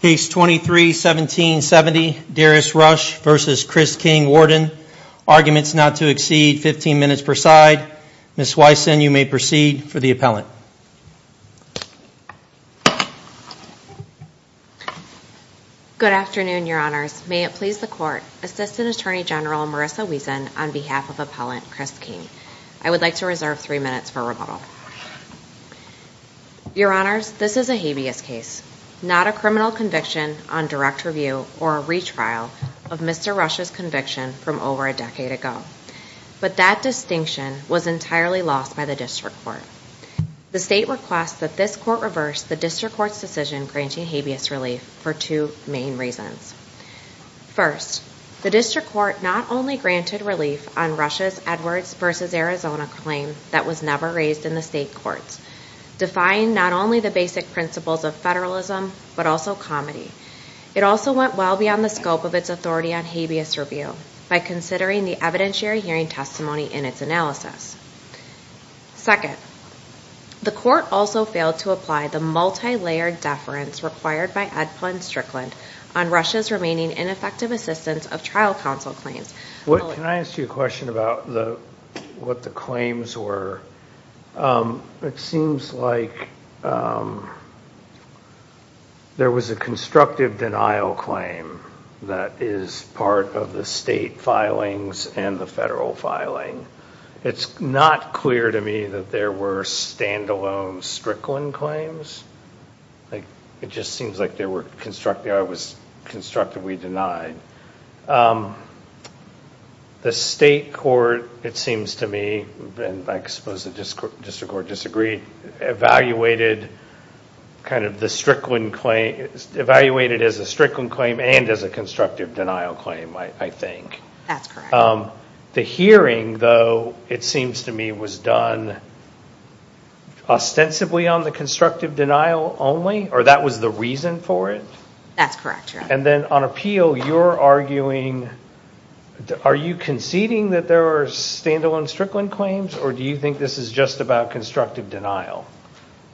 Case 23-1770, Darius Rush v. Chris King, Warden. Arguments not to exceed 15 minutes per side. Ms. Wysen, you may proceed for the appellant. Good afternoon, Your Honors. May it please the Court, Assistant Attorney General Marissa Wiesen on behalf of Appellant Chris King. I would like to reserve three minutes for rebuttal. Your Honors, this is a habeas case. Not a criminal conviction on direct review or a retrial of Mr. Rush's conviction from over a decade ago. But that distinction was entirely lost by the District Court. The State requests that this Court reverse the District Court's decision granting habeas relief for two main reasons. First, the District Court not only granted relief on Rush's Edwards v. Arizona claim that was never raised in the State Courts, defying not only the basic principles of federalism, but also comedy. It also went well beyond the scope of its authority on habeas review by considering the evidentiary hearing testimony in its analysis. Second, the Court also failed to apply the multi-layered deference required by Edpil and Strickland on Rush's remaining ineffective assistance of trial counsel claims. Can I ask you a question about what the claims were? It seems like there was a constructive denial claim that is part of the State filings and the federal filing. It's not clear to me that there were standalone Strickland claims. It just seems like they were constructed, I was constructively denied. The State Court, it seems to me, and I suppose the District Court disagreed, evaluated kind of the Strickland claim, evaluated as a Strickland claim and as a constructive denial claim, I think. That's correct. The hearing, though, it seems to me, was done ostensibly on the constructive denial only, or that was the reason for it? That's correct, yeah. And then on appeal, you're arguing, are you conceding that there were standalone Strickland claims, or do you think this is just about constructive denial?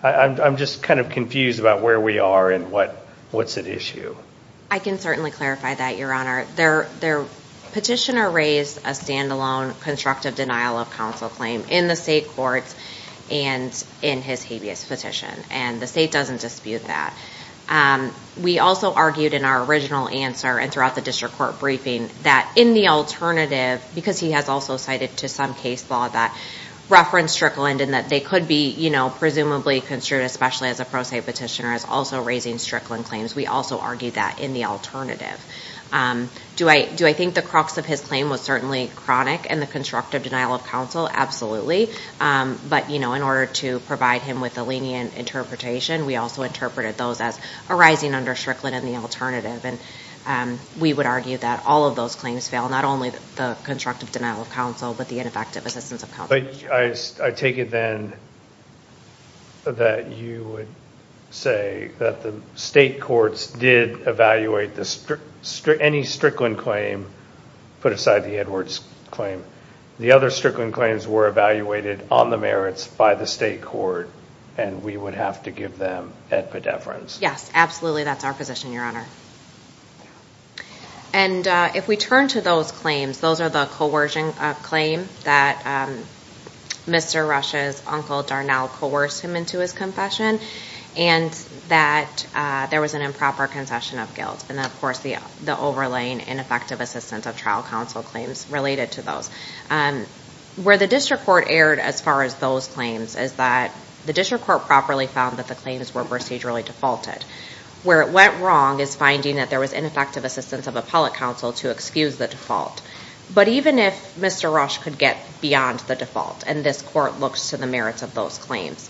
I'm just kind of confused about where we are and what's at issue. I can certainly clarify that, Your Honor. Their petitioner raised a standalone constructive denial of counsel claim in the State Courts and in his habeas petition, and the State doesn't dispute that. We also argued in our original answer and throughout the District Court briefing that in the alternative, because he has also cited to some case law that referenced Strickland and that they could be presumably construed, especially as a pro se petitioner, as also raising Strickland claims, we also argued that in the alternative. Do I think the crux of his claim was certainly chronic and the constructive denial of counsel? Absolutely, but in order to provide him with a lenient interpretation, we also interpreted those as arising under Strickland in the alternative, and we would argue that all of those claims fail, not only the constructive denial of counsel, but the ineffective assistance of counsel. I take it then that you would say that the State Courts did evaluate any Strickland claim, put aside the Edwards claim, the other Strickland claims were evaluated on the merits by the State Court, and we would have to give them epidefference. Yes, absolutely, that's our position, Your Honor. And if we turn to those claims, those are the coercion claim that Mr. Rush's uncle Darnell coerced him into his confession, and that there was an improper concession of guilt, and of course the overlaying ineffective assistance of trial counsel claims related to those. Where the District Court erred as far as those claims is that the District Court properly found that the claims were procedurally defaulted. Where it went wrong is finding that there was ineffective assistance of appellate counsel to excuse the default. But even if Mr. Rush could get beyond the default, and this Court looks to the merits of those claims,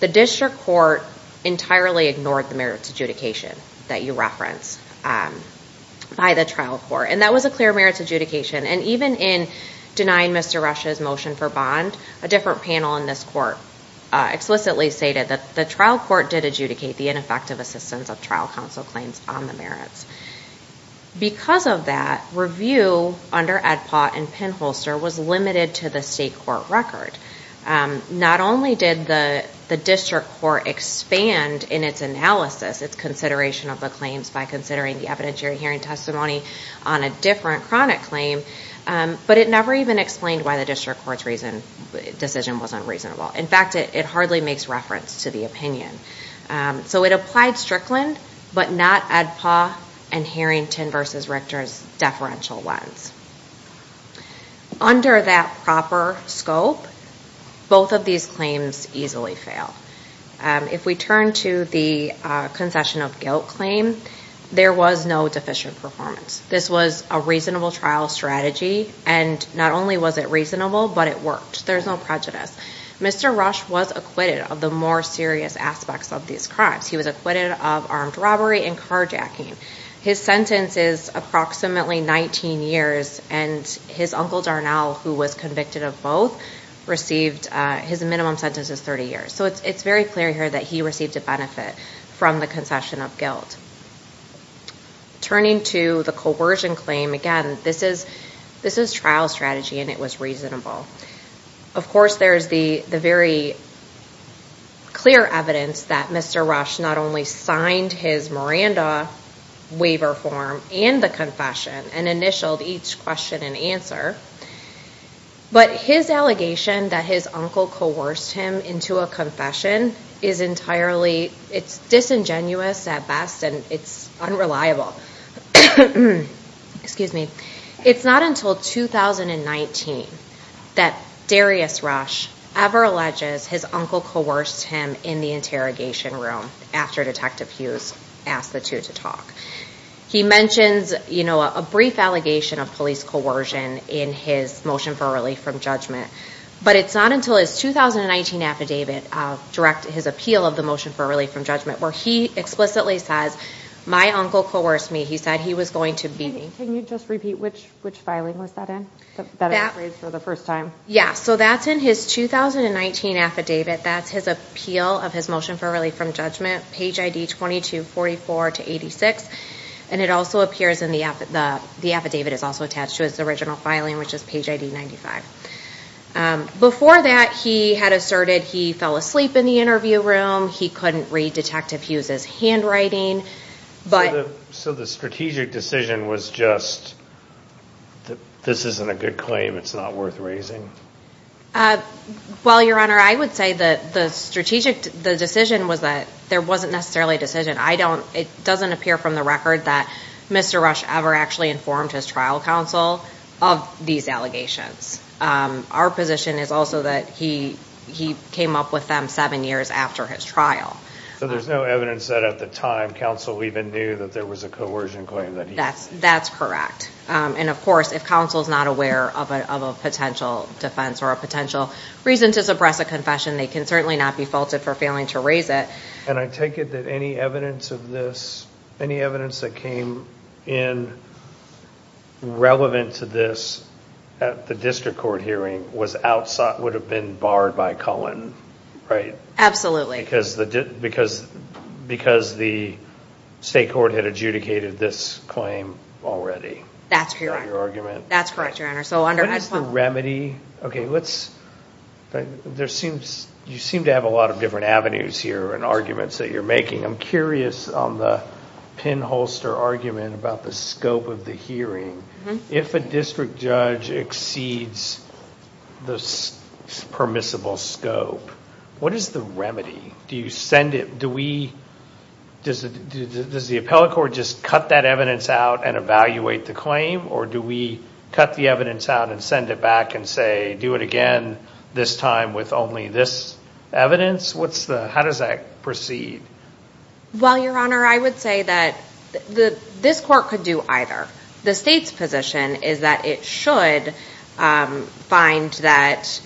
the District Court entirely ignored the merits adjudication that you reference by the trial court, and that was a clear merits adjudication, and even in denying Mr. Rush's motion for bond, a different panel in this Court explicitly stated that the trial court did adjudicate the ineffective assistance of trial counsel claims on the merits. Because of that, review under Edpaw and Penholster was limited to the state court record. Not only did the District Court expand in its analysis, its consideration of the claims by considering the evidentiary hearing testimony on a different chronic claim, but it never even explained why the District Court's decision wasn't reasonable. In fact, it hardly makes reference to the opinion. So it applied Strickland, but not Edpaw and Harrington v. Richter's deferential ones. Under that proper scope, both of these claims easily fail. If we turn to the concession of guilt claim, there was no deficient performance. This was a reasonable trial strategy, and not only was it reasonable, but it worked. There's no prejudice. Mr. Rush was acquitted of the more serious aspects of these crimes. He was acquitted of armed robbery and carjacking. His sentence is approximately 19 years, and his uncle Darnell, who was convicted of both, received, his minimum sentence is 30 years. So it's very clear here that he received a benefit from the concession of guilt. Turning to the coercion claim, again, this is trial strategy, and it was reasonable. Of course, there's the very clear evidence that Mr. Rush not only signed his Miranda waiver form and the confession and initialed each question and answer, but his allegation that his uncle coerced him into a confession is entirely, it's disingenuous at best, and it's unreliable. Excuse me. It's not until 2019 that Darius Rush ever alleges his uncle coerced him in the interrogation room after Detective Hughes asked the two to talk. He mentions a brief allegation of police coercion in his motion for relief from judgment, but it's not until his 2019 affidavit, his appeal of the motion for relief from judgment, where he explicitly says, my uncle coerced me. He said he was going to be. Can you just repeat which filing was that in? That I'm afraid, for the first time. Yeah, so that's in his 2019 affidavit. That's his appeal of his motion for relief from judgment, page ID 2244-86, and it also appears in the, the affidavit is also attached to his original filing, which is page ID 95. Before that, he had asserted he fell asleep in the interview room, he couldn't read Detective Hughes' handwriting, but. So the strategic decision was just, this isn't a good claim, it's not worth raising? Well, Your Honor, I would say that the strategic, the decision was that there wasn't necessarily a decision. I don't, it doesn't appear from the record that Mr. Rush ever actually informed his trial counsel of these allegations. Our position is also that he came up with them seven years after his trial. So there's no evidence that at the time, counsel even knew that there was a coercion claim that he had. That's correct. And of course, if counsel's not aware of a potential defense or a potential reason to suppress a confession, they can certainly not be faulted for failing to raise it. And I take it that any evidence of this, any evidence that came in relevant to this at the district court hearing was outside, would have been barred by Cullen, right? Absolutely. Because the state court had adjudicated this claim already. That's correct, Your Honor. So under Ed Plumb. What is the remedy? Okay, let's, there seems, you seem to have a lot of different avenues here and arguments that you're making. I'm curious on the pinholster argument about the scope of the hearing. If a district judge exceeds the permissible scope, what is the remedy? Do you send it, do we, does the appellate court just cut that evidence out and evaluate the claim? Or do we cut the evidence out and send it back and say, do it again this time with only this evidence? What's the, how does that proceed? Well, Your Honor, I would say that this court could do either. The state's position is that it should find that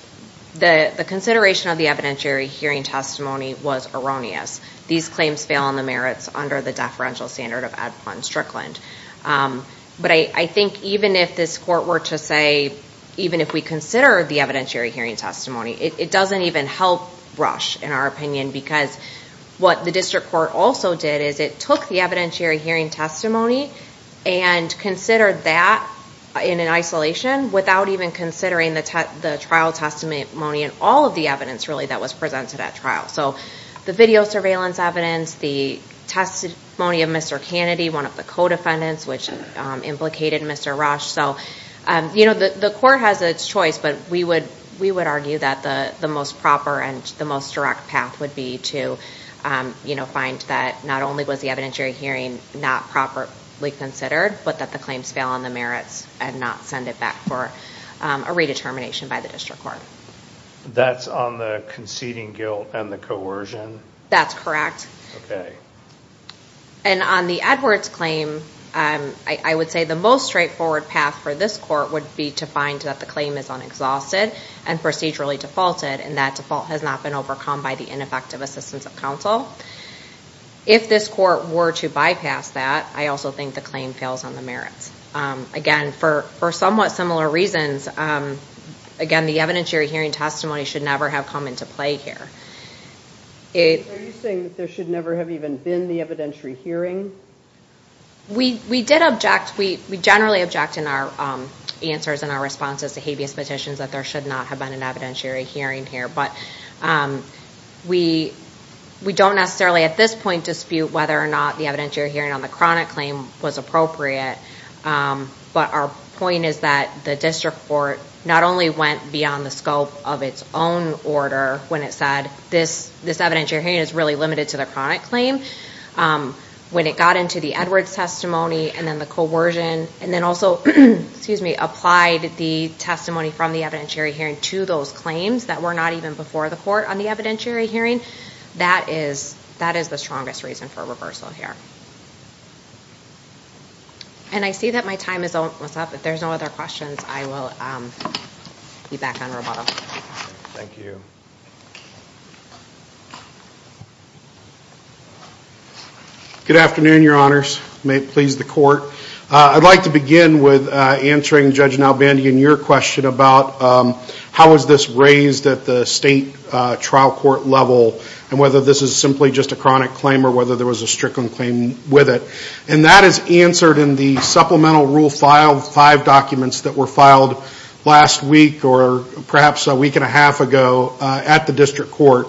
the consideration of the evidentiary hearing testimony was erroneous. These claims fail on the merits under the deferential standard of Ed Plumb Strickland. But I think even if this court were to say, even if we consider the evidentiary hearing testimony, it doesn't even help brush, in our opinion, because what the district court also did is it took the evidentiary hearing testimony and considered that in an isolation without even considering the trial testimony and all of the evidence, really, that was presented at trial. So the video surveillance evidence, the testimony of Mr. Kennedy, one of the co-defendants, which implicated Mr. Rush. So, you know, the court has its choice, but we would argue that the most proper and the most direct path would be to, you know, find that not only was the evidentiary hearing not properly considered, but that the claims fail on the merits and not send it back for a redetermination by the district court. That's on the conceding guilt and the coercion? That's correct. Okay. And on the Edwards claim, I would say the most straightforward path for this court would be to find that the claim is unexhausted and procedurally defaulted, and that default has not been overcome by the ineffective assistance of counsel. If this court were to bypass that, I also think the claim fails on the merits. Again, for somewhat similar reasons, again, the evidentiary hearing testimony should never have come into play here. It- Are you saying that there should never have even been the evidentiary hearing? We did object, we generally object in our answers and our responses to habeas petitions that there should not have been an evidentiary hearing here, but we don't necessarily at this point dispute whether or not the evidentiary hearing on the chronic claim was appropriate. But our point is that the district court not only went beyond the scope of its own order when it said this evidentiary hearing is really limited to the chronic claim, when it got into the Edwards testimony and then the coercion, and then also, excuse me, applied the testimony from the evidentiary hearing to those claims that were not even before the court on the evidentiary hearing, that is the strongest reason for reversal here. And I see that my time is almost up. If there's no other questions, I will be back on rebuttal. Thank you. Good afternoon, your honors. May it please the court. I'd like to begin with answering Judge Nalbandian your question about how was this raised at the state trial court level and whether this is simply just a chronic claim or whether there was a strickland claim with it. And that is answered in the supplemental rule file, five documents that were filed last week or perhaps a week and a half ago at the district court.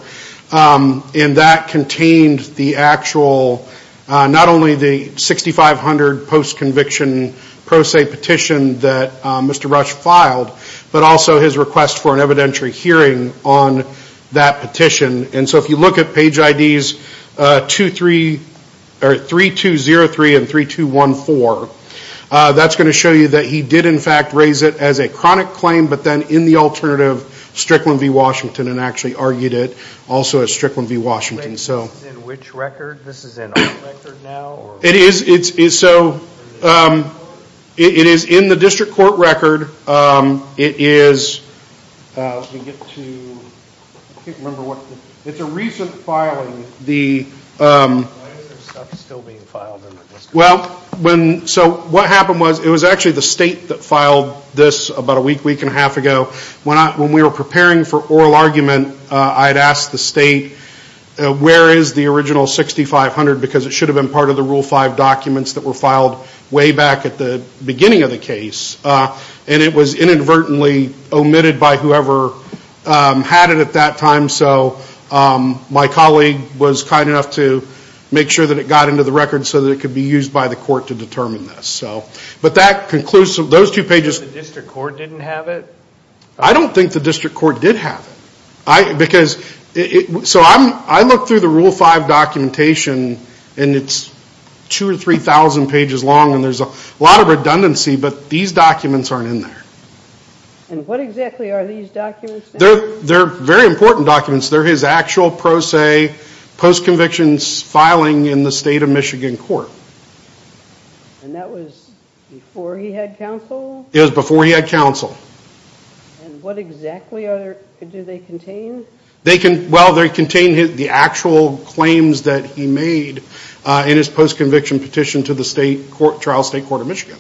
And that contained the actual, not only the 6,500 post-conviction pro se petition that Mr. Rush filed, but also his request for an evidentiary hearing on that petition. And so if you look at page IDs, 3203 and 3214, that's gonna show you that he did in fact raise it as a chronic claim, but then in the alternative Strickland v. Washington and actually argued it also at Strickland v. Washington. So. In which record? This is in our record now? It is. So it is in the district court record. It is, let me get to, I can't remember what, it's a recent filing. Why is there stuff still being filed in the district? Well, when, so what happened was, it was actually the state that filed this about a week, week and a half ago. When we were preparing for oral argument, I had asked the state, where is the original 6,500? Because it should have been part of the rule five documents that were filed way back at the beginning of the case. And it was inadvertently omitted by whoever had it at that time. So my colleague was kind enough to make sure that it got into the record so that it could be used by the court to determine this. So, but that concludes those two pages. The district court didn't have it? I don't think the district court did have it. Because, so I'm, I looked through the rule five documentation and it's two or 3000 pages long and there's a lot of redundancy, but these documents aren't in there. And what exactly are these documents? They're very important documents. They're his actual pro se, post convictions filing in the state of Michigan court. And that was before he had counsel? It was before he had counsel. And what exactly are, do they contain? They can, well, they contain the actual claims that he made in his post conviction petition to the state trial state court of Michigan.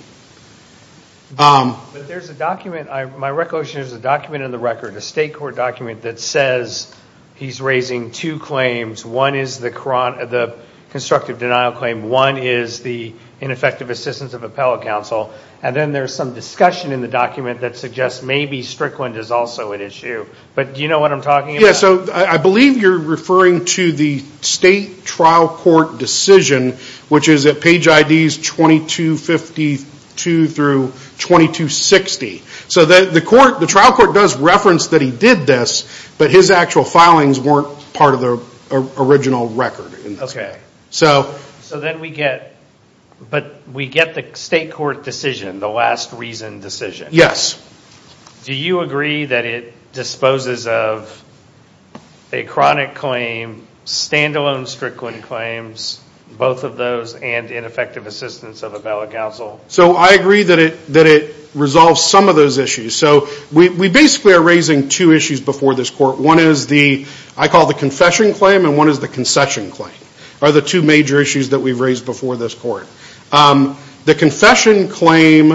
But there's a document, my recollection is there's a document in the record, a state court document that says he's raising two claims. One is the constructive denial claim. One is the ineffective assistance of appellate counsel. And then there's some discussion in the document that suggests maybe Strickland is also an issue. But do you know what I'm talking about? Yeah, so I believe you're referring to the state trial court decision, which is at page IDs 2252 through 2260. So the court, the trial court does reference that he did this, but his actual filings weren't part of the original record. Okay, so then we get, but we get the state court decision, the last reason decision. Yes. Do you agree that it disposes of a chronic claim, standalone Strickland claims, both of those and ineffective assistance of appellate counsel? So I agree that it resolves some of those issues. So we basically are raising two issues before this court. One is the, I call the confession claim and one is the concession claim, are the two major issues that we've raised before this court. The confession claim,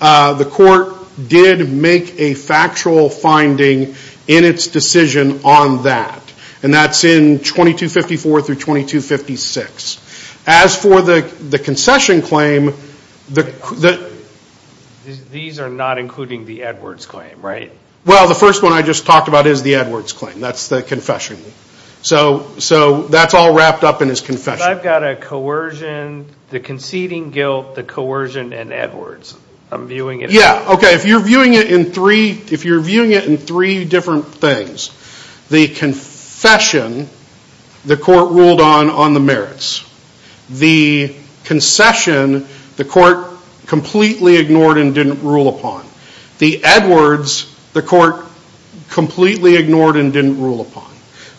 the court did make a factual finding in its decision on that. And that's in 2254 through 2256. As for the concession claim, the. These are not including the Edwards claim, right? Well, the first one I just talked about is the Edwards claim, that's the confession. So that's all wrapped up in his confession. I've got a coercion, the conceding guilt, the coercion and Edwards. I'm viewing it. Yeah, okay, if you're viewing it in three, if you're viewing it in three different things, the confession, the court ruled on on the merits. The concession, the court completely ignored and didn't rule upon. The Edwards, the court completely ignored and didn't rule upon.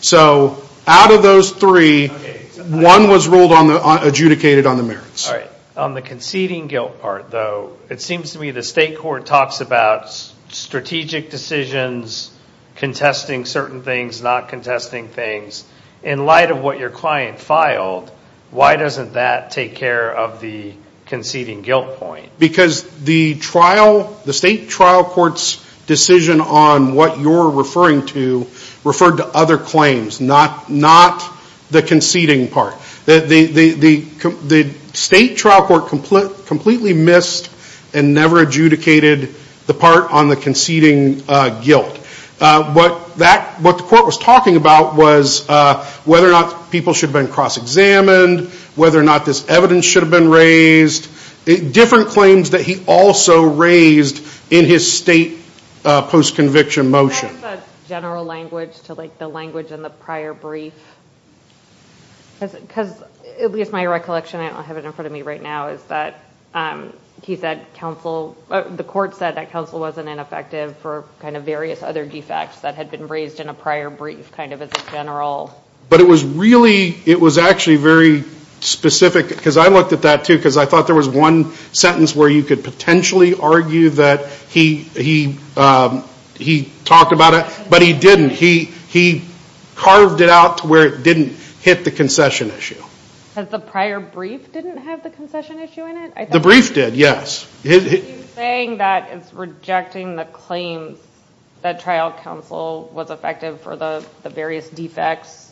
So out of those three, one was ruled on, adjudicated on the merits. All right, on the conceding guilt part though, it seems to me the state court talks about strategic decisions, contesting certain things, not contesting things. In light of what your client filed, why doesn't that take care of the conceding guilt point? Because the trial, the state trial court's decision on what you're referring to referred to other claims, not the conceding part. The state trial court completely missed and never adjudicated the part on the conceding guilt. What the court was talking about was whether or not people should have been cross-examined, whether or not this evidence should have been raised, different claims that he also raised in his state post-conviction motion. That is a general language to like the language in the prior brief. Because at least my recollection, I don't have it in front of me right now, is that he said counsel, the court said that counsel wasn't ineffective for kind of various other defects that had been raised in a prior brief, kind of as a general. But it was really, it was actually very specific, because I looked at that too, because I thought there was one sentence where you could potentially argue that he talked about it, but he didn't, he carved it out to where it didn't hit the concession issue. Has the prior brief didn't have the concession issue in it? The brief did, yes. He's saying that it's rejecting the claims that trial counsel was effective for the various defects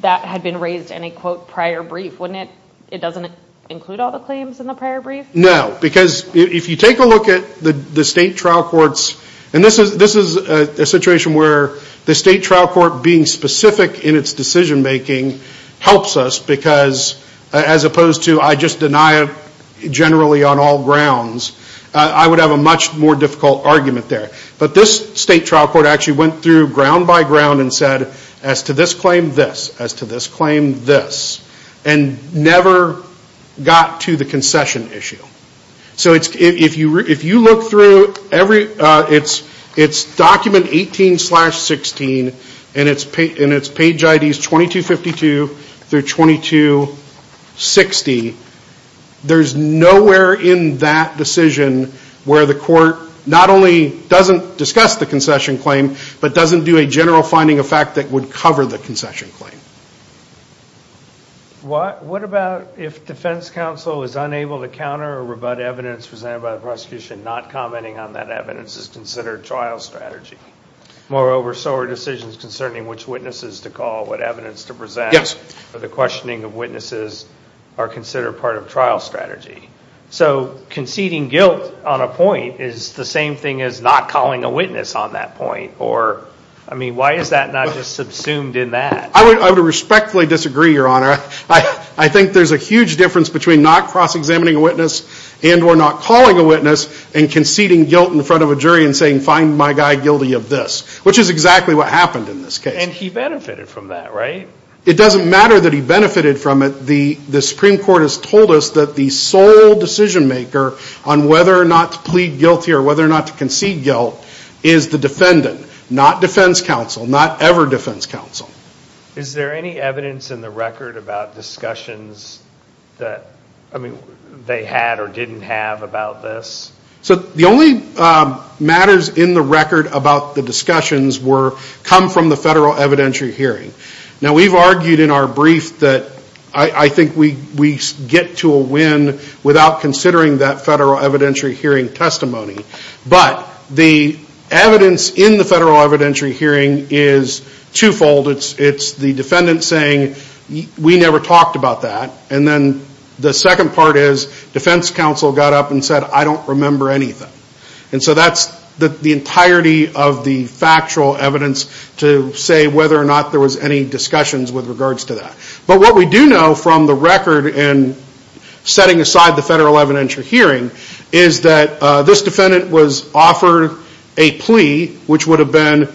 that had been raised in a quote prior brief, wouldn't it, it doesn't include all the claims in the prior brief? No, because if you take a look at the state trial courts, and this is a situation where the state trial court being specific in its decision-making helps us because, as opposed to, I just deny it generally on all grounds, I would have a much more difficult argument there. But this state trial court actually went through ground by ground and said, as to this claim, this, as to this claim, this, and never got to the concession issue. So if you look through every, it's document 18 slash 16, and it's page ID's 2252 through 2260, there's nowhere in that decision where the court not only doesn't discuss the concession claim, but doesn't do a general finding of fact that would cover the concession claim. What about if defense counsel is unable to counter or rebut evidence presented by the prosecution not commenting on that evidence is considered trial strategy? Moreover, so are decisions concerning which witnesses to call, what evidence to present, or the questioning of witnesses are considered part of trial strategy. So conceding guilt on a point is the same thing as not calling a witness on that point, or, I mean, why is that not just subsumed in that? I would respectfully disagree, Your Honor. I think there's a huge difference between not cross-examining a witness and or not calling a witness and conceding guilt in front of a jury and saying, find my guy guilty of this, which is exactly what happened in this case. And he benefited from that, right? It doesn't matter that he benefited from it. The Supreme Court has told us that the sole decision maker on whether or not to plead guilty or whether or not to concede guilt is the defendant, not defense counsel, not ever defense counsel. Is there any evidence in the record about discussions that, I mean, they had or didn't have about this? So the only matters in the record about the discussions were come from the federal evidentiary hearing. Now, we've argued in our brief that I think we get to a win without considering that federal evidentiary hearing testimony. But the evidence in the federal evidentiary hearing is twofold. It's the defendant saying, we never talked about that. And then the second part is defense counsel got up and said, I don't remember anything. And so that's the entirety of the factual evidence to say whether or not there was any discussions with regards to that. But what we do know from the record in setting aside the federal evidentiary hearing is that this defendant was offered a plea, which would have been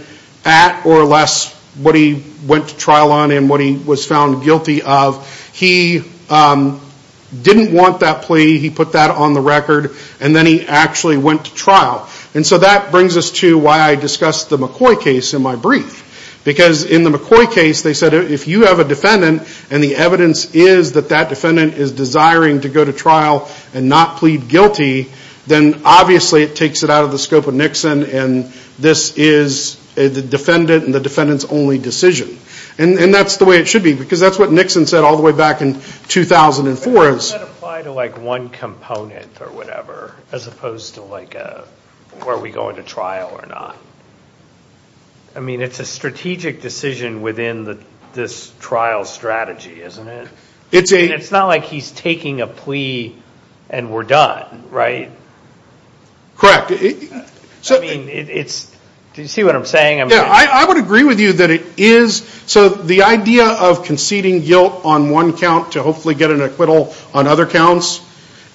at or less what he went to trial on and what he was found guilty of. He didn't want that plea. He put that on the record. And then he actually went to trial. And so that brings us to why I discussed the McCoy case in my brief. Because in the McCoy case, they said, if you have a defendant and the evidence is that that defendant is desiring to go to trial and not plead guilty, then obviously it takes it out of the scope of Nixon. And this is the defendant and the defendant's only decision. And that's the way it should be, because that's what Nixon said all the way back in 2004. Does that apply to one component or whatever, as opposed to where are we going to trial or not? I mean, it's a strategic decision within this trial strategy, isn't it? It's not like he's taking a plea and we're done, right? Correct. Do you see what I'm saying? I would agree with you that it is. So the idea of conceding guilt on one count to hopefully get an acquittal on other counts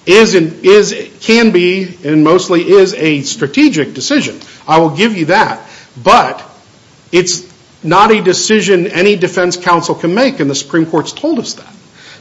can be and mostly is a strategic decision. I will give you that. But it's not a decision any defense counsel can make, and the Supreme Court's told us that.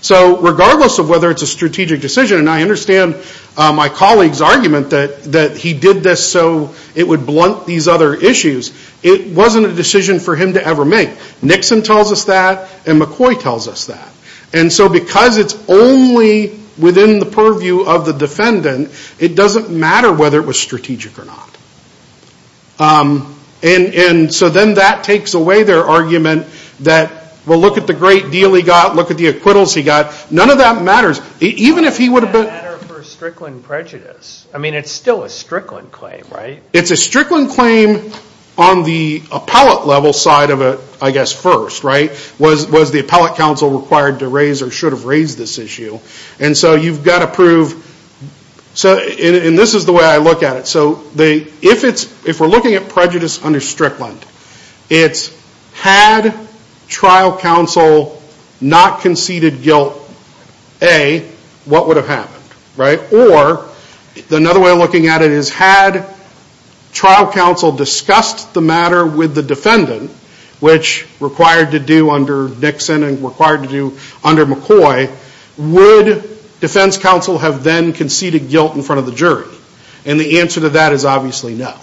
So regardless of whether it's a strategic decision, and I understand my colleague's argument that he did this so it would blunt these other issues, it wasn't a decision for him to ever make. Nixon tells us that, and McCoy tells us that. And so because it's only within the purview of the defendant, it doesn't matter whether it was strategic or not. And so then that takes away their argument that, well, look at the great deal he got. Look at the acquittals he got. None of that matters. Even if he would have been. Why would that matter for a Strickland prejudice? I mean, it's still a Strickland claim, right? It's a Strickland claim on the appellate level side of it, I guess, first, right? Was the appellate counsel required to raise or should have raised this issue? And so you've got to prove. So and this is the way I look at it. So if we're looking at prejudice under Strickland, it's had trial counsel not conceded guilt, A, what would have happened, right? Or another way of looking at it is, had trial counsel discussed the matter with the defendant, which required to do under Nixon and required to do under McCoy, would defense counsel have then conceded guilt in front of the jury? And the answer to that is obviously no.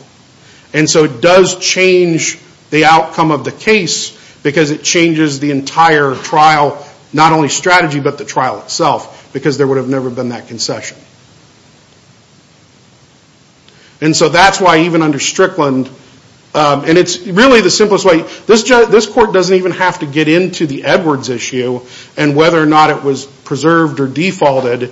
And so it does change the outcome of the case because it changes the entire trial, not only strategy, but the trial itself because there would have never been that concession. And so that's why even under Strickland, and it's really the simplest way. This court doesn't even have to get into the Edwards issue and whether or not it was preserved or defaulted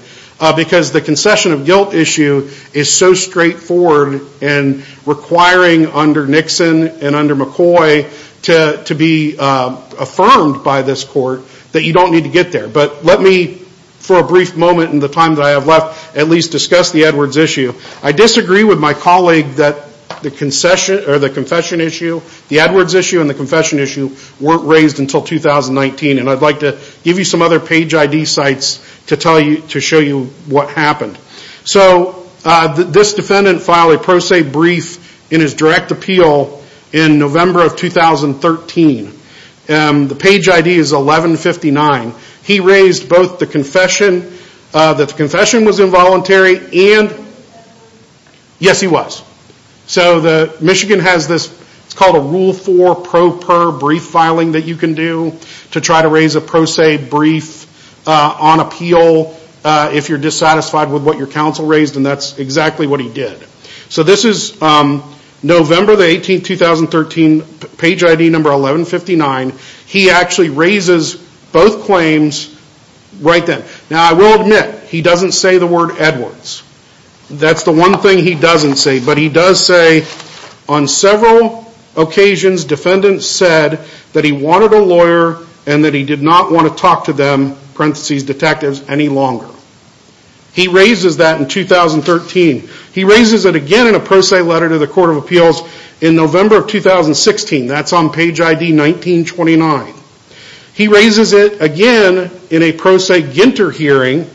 because the concession of guilt issue is so straightforward and requiring under Nixon and under McCoy to be affirmed by this court that you don't need to get there. But let me, for a brief moment in the time that I have left, at least discuss the Edwards issue. I disagree with my colleague that the concession or the confession issue, the Edwards issue and the confession issue weren't raised until 2019. And I'd like to give you some other page ID sites to tell you, to show you what happened. So this defendant filed a pro se brief in his direct appeal in November of 2013. The page ID is 1159. He raised both the confession, that the confession was involuntary, and yes, he was. So Michigan has this, it's called a rule four pro per brief filing that you can do to try to raise a pro se brief on appeal if you're dissatisfied with what your counsel raised and that's exactly what he did. So this is November the 18th, 2013, page ID number 1159. He actually raises both claims right then. Now I will admit, he doesn't say the word Edwards. That's the one thing he doesn't say, but he does say on several occasions defendants said that he wanted a lawyer and that he did not want to talk to them, parentheses detectives, any longer. He raises that in 2013. He raises it again in a pro se letter to the Court of Appeals in November of 2016. That's on page ID 1929. He raises it again in a pro se Ginter hearing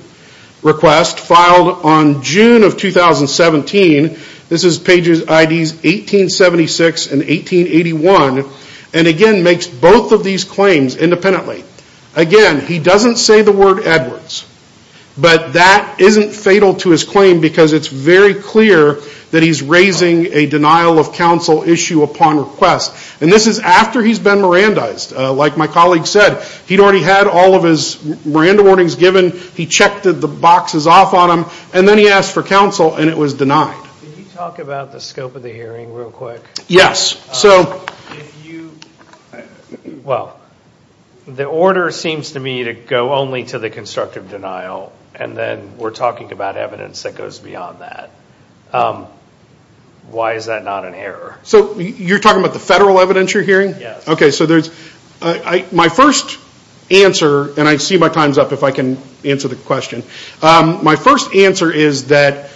request filed on June of 2017. This is pages IDs 1876 and 1881, and again, makes both of these claims independently. Again, he doesn't say the word Edwards, but that isn't fatal to his claim because it's very clear that he's raising a denial of counsel issue upon request. And this is after he's been Mirandized. Like my colleague said, he'd already had all of his Miranda warnings given. He checked the boxes off on them, and then he asked for counsel, and it was denied. Can you talk about the scope of the hearing real quick? Yes. So if you, well, the order seems to me to go only to the constructive denial, and then we're talking about evidence that goes beyond that. Why is that not an error? So you're talking about the federal evidentiary hearing? OK, so my first answer, and I see my time's up if I can answer the question. My first answer is that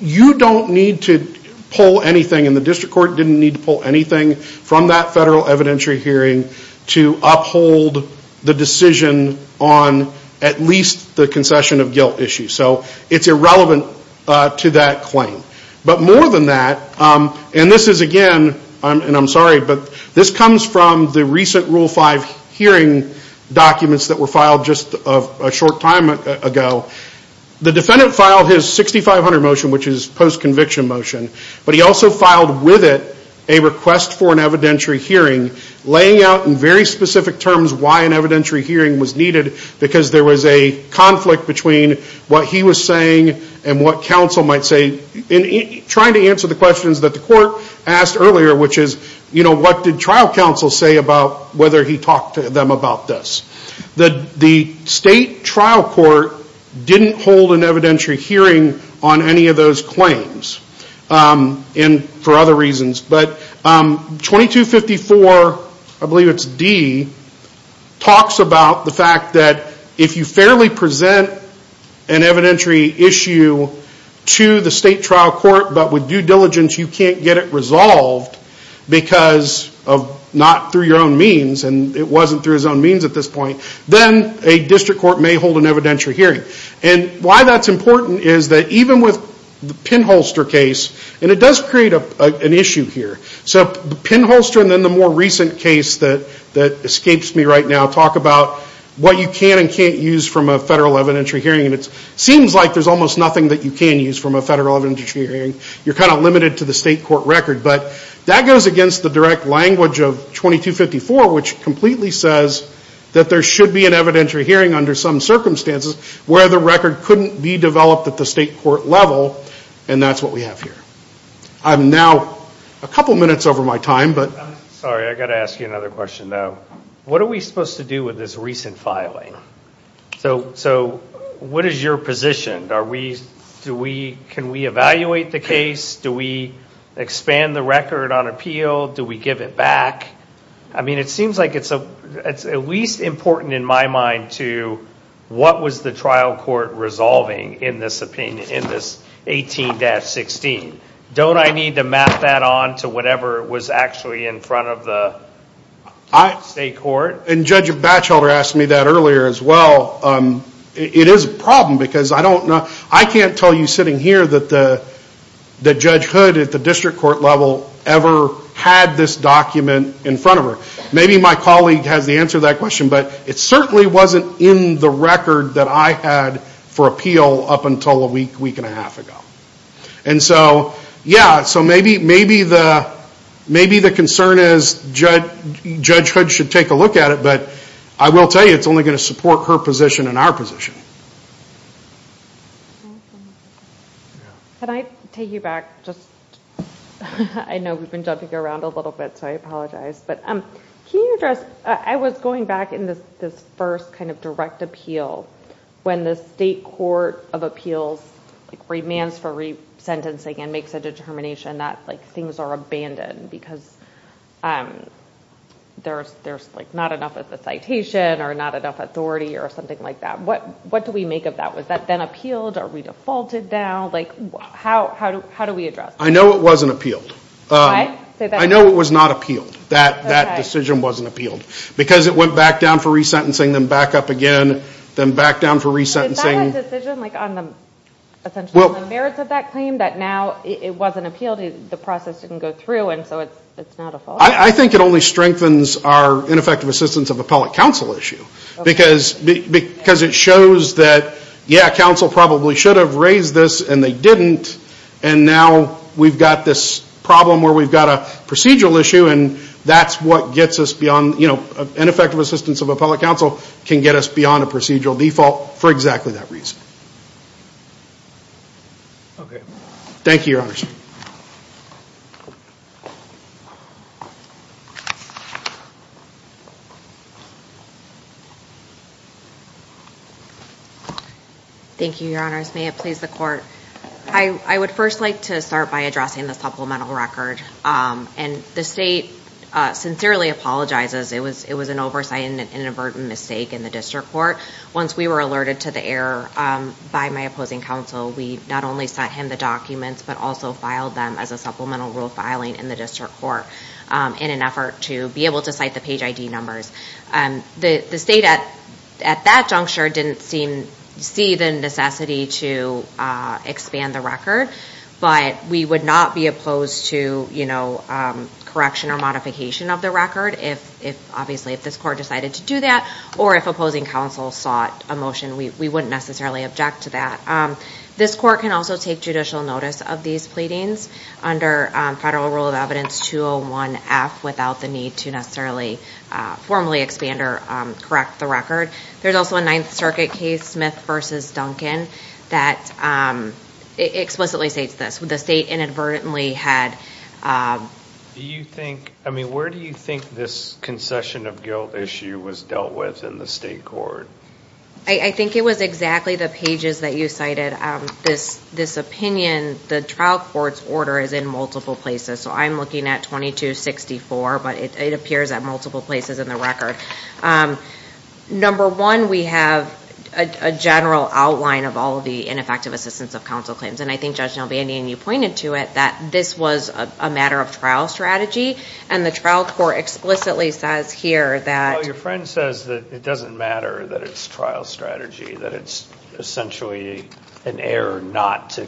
you don't need to pull anything, and the district court didn't need to pull anything from that federal evidentiary hearing to uphold the decision on at least the concession of guilt issue. So it's irrelevant to that claim. But more than that, and this is again, and I'm sorry, but this comes from the recent Rule 5 hearing documents that were filed just a short time ago. The defendant filed his 6500 motion, which is post-conviction motion, but he also filed with it a request for an evidentiary hearing, laying out in very specific terms why an evidentiary hearing was needed, because there was a conflict between what he was saying and what counsel might say, trying to answer the questions that the court asked earlier, which is, what did trial counsel say about whether he talked to them about this? The state trial court didn't hold an evidentiary hearing on any of those claims, and for other reasons. But 2254, I believe it's D, talks about the fact that if you fairly present an evidentiary issue to the state trial court, but with due diligence you can't get it resolved because of not through your own means, and it wasn't through his own means at this point, then a district court may hold an evidentiary hearing. And why that's important is that even with the pinholster case, and it does create an issue here. So the pinholster and then the more recent case that escapes me right now talk about what you can and can't use from a federal evidentiary hearing, and it seems like there's almost nothing that you can use from a federal evidentiary hearing. You're kind of limited to the state court record. But that goes against the direct language of 2254, which completely says that there should be an evidentiary hearing under some circumstances where the record couldn't be developed at the state court level, and that's what we have here. I'm now a couple minutes over my time, but. Sorry, I've got to ask you another question, though. What are we supposed to do with this recent filing? So what is your position? Can we evaluate the case? Do we expand the record on appeal? Do we give it back? I mean, it seems like it's at least important in my mind to what was the trial court resolving in this opinion, in this 18-16. Don't I need to map that on to whatever was actually in front of the state court? And Judge Batchelder asked me that earlier as well. It is a problem, because I don't know. I can't tell you sitting here that Judge Hood at the district court level ever had this document in front of her. Maybe my colleague has the answer to that question, but it certainly wasn't in the record that I had for appeal up until a week, week and a half ago. And so, yeah, so maybe the concern is Judge Hood should take a look at it, but I will tell you, it's only going to support her position and our position. Can I take you back just, I know we've been jumping around a little bit, so I apologize. But can you address, I was going back in this first kind of direct appeal when the state court of appeals remands for resentencing and makes a determination that things are abandoned because there's not enough of the citation or not enough authority or something like that. What do we make of that? Was that then appealed? Are we defaulted now? How do we address that? I know it wasn't appealed. I know it was not appealed, that decision wasn't appealed. Because it went back down for resentencing, then back up again, then back down for resentencing. Did that decision, like on the merits of that claim, that now it wasn't appealed, the process didn't go through, and so it's not a fault? I think it only strengthens our ineffective assistance of appellate counsel issue. Because it shows that, yeah, counsel probably should have raised this, and they didn't. And now we've got this problem where we've got a procedural issue, and that's what gets us beyond ineffective assistance of appellate counsel, can get us beyond a procedural default for exactly that reason. Thank you, your honors. Thank you, your honors. May it please the court. I would first like to start by addressing the supplemental record. And the state sincerely apologizes. It was an oversight and inadvertent mistake in the district court. Once we were alerted to the error by my opposing counsel, we not only sent him the documents, but also filed them as a supplemental rule filing in the district court in an effort to be able to cite the page ID numbers. The state at that juncture didn't see the necessity to expand the record, but we would not be opposed to correction or modification of the record obviously if this court decided to do that, or if opposing counsel sought a motion. We wouldn't necessarily object to that. This court can also take judicial notice of these pleadings under federal rule of evidence 201F without the need to necessarily formally expand or correct the record. There's also a Ninth Circuit case, Smith v. Duncan, that explicitly states this. The state inadvertently had. Do you think, I mean, where do you think this concession of guilt issue was dealt with in the state court? I think it was exactly the pages that you cited. This opinion, the trial court's order is in multiple places. So I'm looking at 2264, but it appears at multiple places in the record. Number one, we have a general outline of all of the ineffective assistance of counsel claims. And I think Judge Nelvandian, you that this was a matter of trial strategy. And the trial court explicitly says here that. Your friend says that it doesn't matter that it's trial strategy, that it's essentially an error not to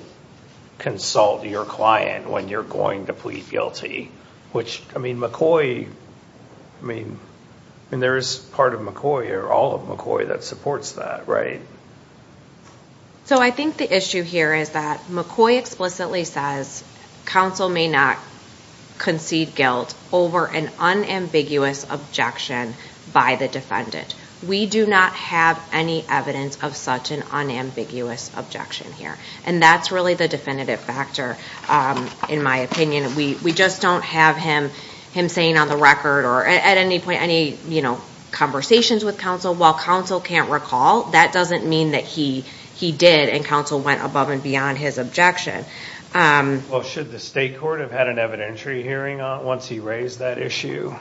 consult your client when you're going to plead guilty. Which, I mean, McCoy, I mean, there is part of McCoy or all of McCoy that supports that, right? So I think the issue here is that McCoy explicitly says counsel may not concede guilt over an unambiguous objection by the defendant. We do not have any evidence of such an unambiguous objection here. And that's really the definitive factor, in my opinion. We just don't have him saying on the record or at any point any conversations with counsel, well, counsel can't recall. That doesn't mean that he did and counsel went above and beyond his objection. Well, should the state court have had an evidentiary hearing once he raised that issue?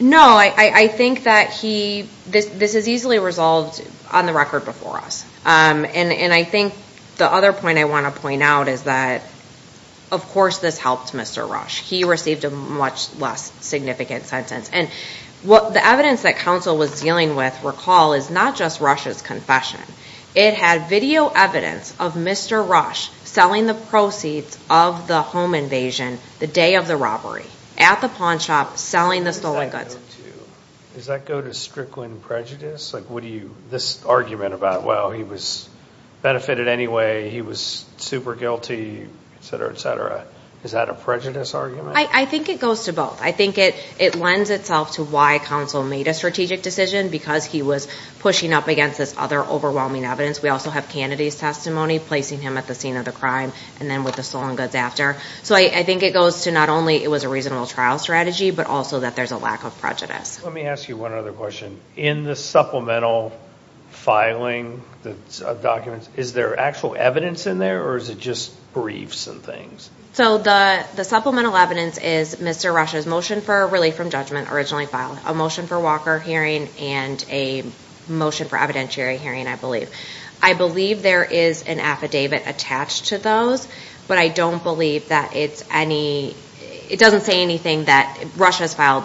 No, I think that this is easily resolved on the record before us. And I think the other point I want to point out is that, of course, this helped Mr. Rush. He received a much less significant sentence. And what the evidence that counsel was dealing with, recall, is not just Rush's confession. It had video evidence of Mr. Rush selling the proceeds of the home invasion the day of the robbery at the pawn shop selling the stolen goods. Does that go to strickling prejudice? Like, what do you, this argument about, well, he was benefited anyway. He was super guilty, et cetera, et cetera. Is that a prejudice argument? I think it goes to both. I think it lends itself to why counsel made a strategic decision, because he was pushing up against this other overwhelming evidence. We also have Kennedy's testimony, placing him at the scene of the crime, and then with the stolen goods after. So I think it goes to not only it was a reasonable trial strategy, but also that there's a lack of prejudice. Let me ask you one other question. In the supplemental filing documents, is there actual evidence in there, or is it just briefs and things? So the supplemental evidence is Mr. Rush's motion for relief from judgment originally filed, a motion for Walker hearing, and a motion for evidentiary hearing, I believe. I believe there is an affidavit attached to those, but I don't believe that it's any, it doesn't say anything that, Rush has filed,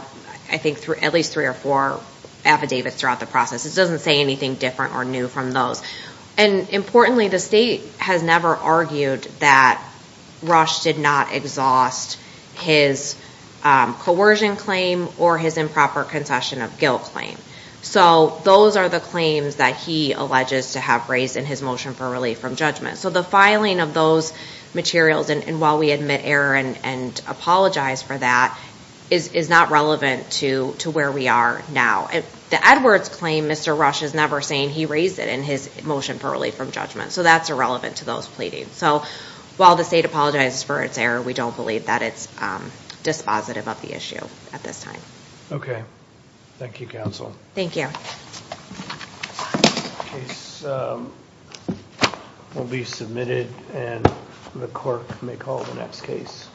I think, at least three or four affidavits throughout the process. It doesn't say anything different or new from those. And importantly, the state has never argued that Rush did not exhaust his coercion claim or his improper concession of guilt claim. So those are the claims that he alleges to have raised in his motion for relief from judgment. So the filing of those materials, and while we admit error and apologize for that, is not relevant to where we are now. The Edwards claim, Mr. Rush is never saying he raised it in his motion for relief from judgment. So that's irrelevant to those pleadings. So while the state apologizes for its error, we don't believe that it's dispositive about the issue at this time. Okay. Thank you, counsel. Thank you. Case will be submitted, and the clerk may call the next case.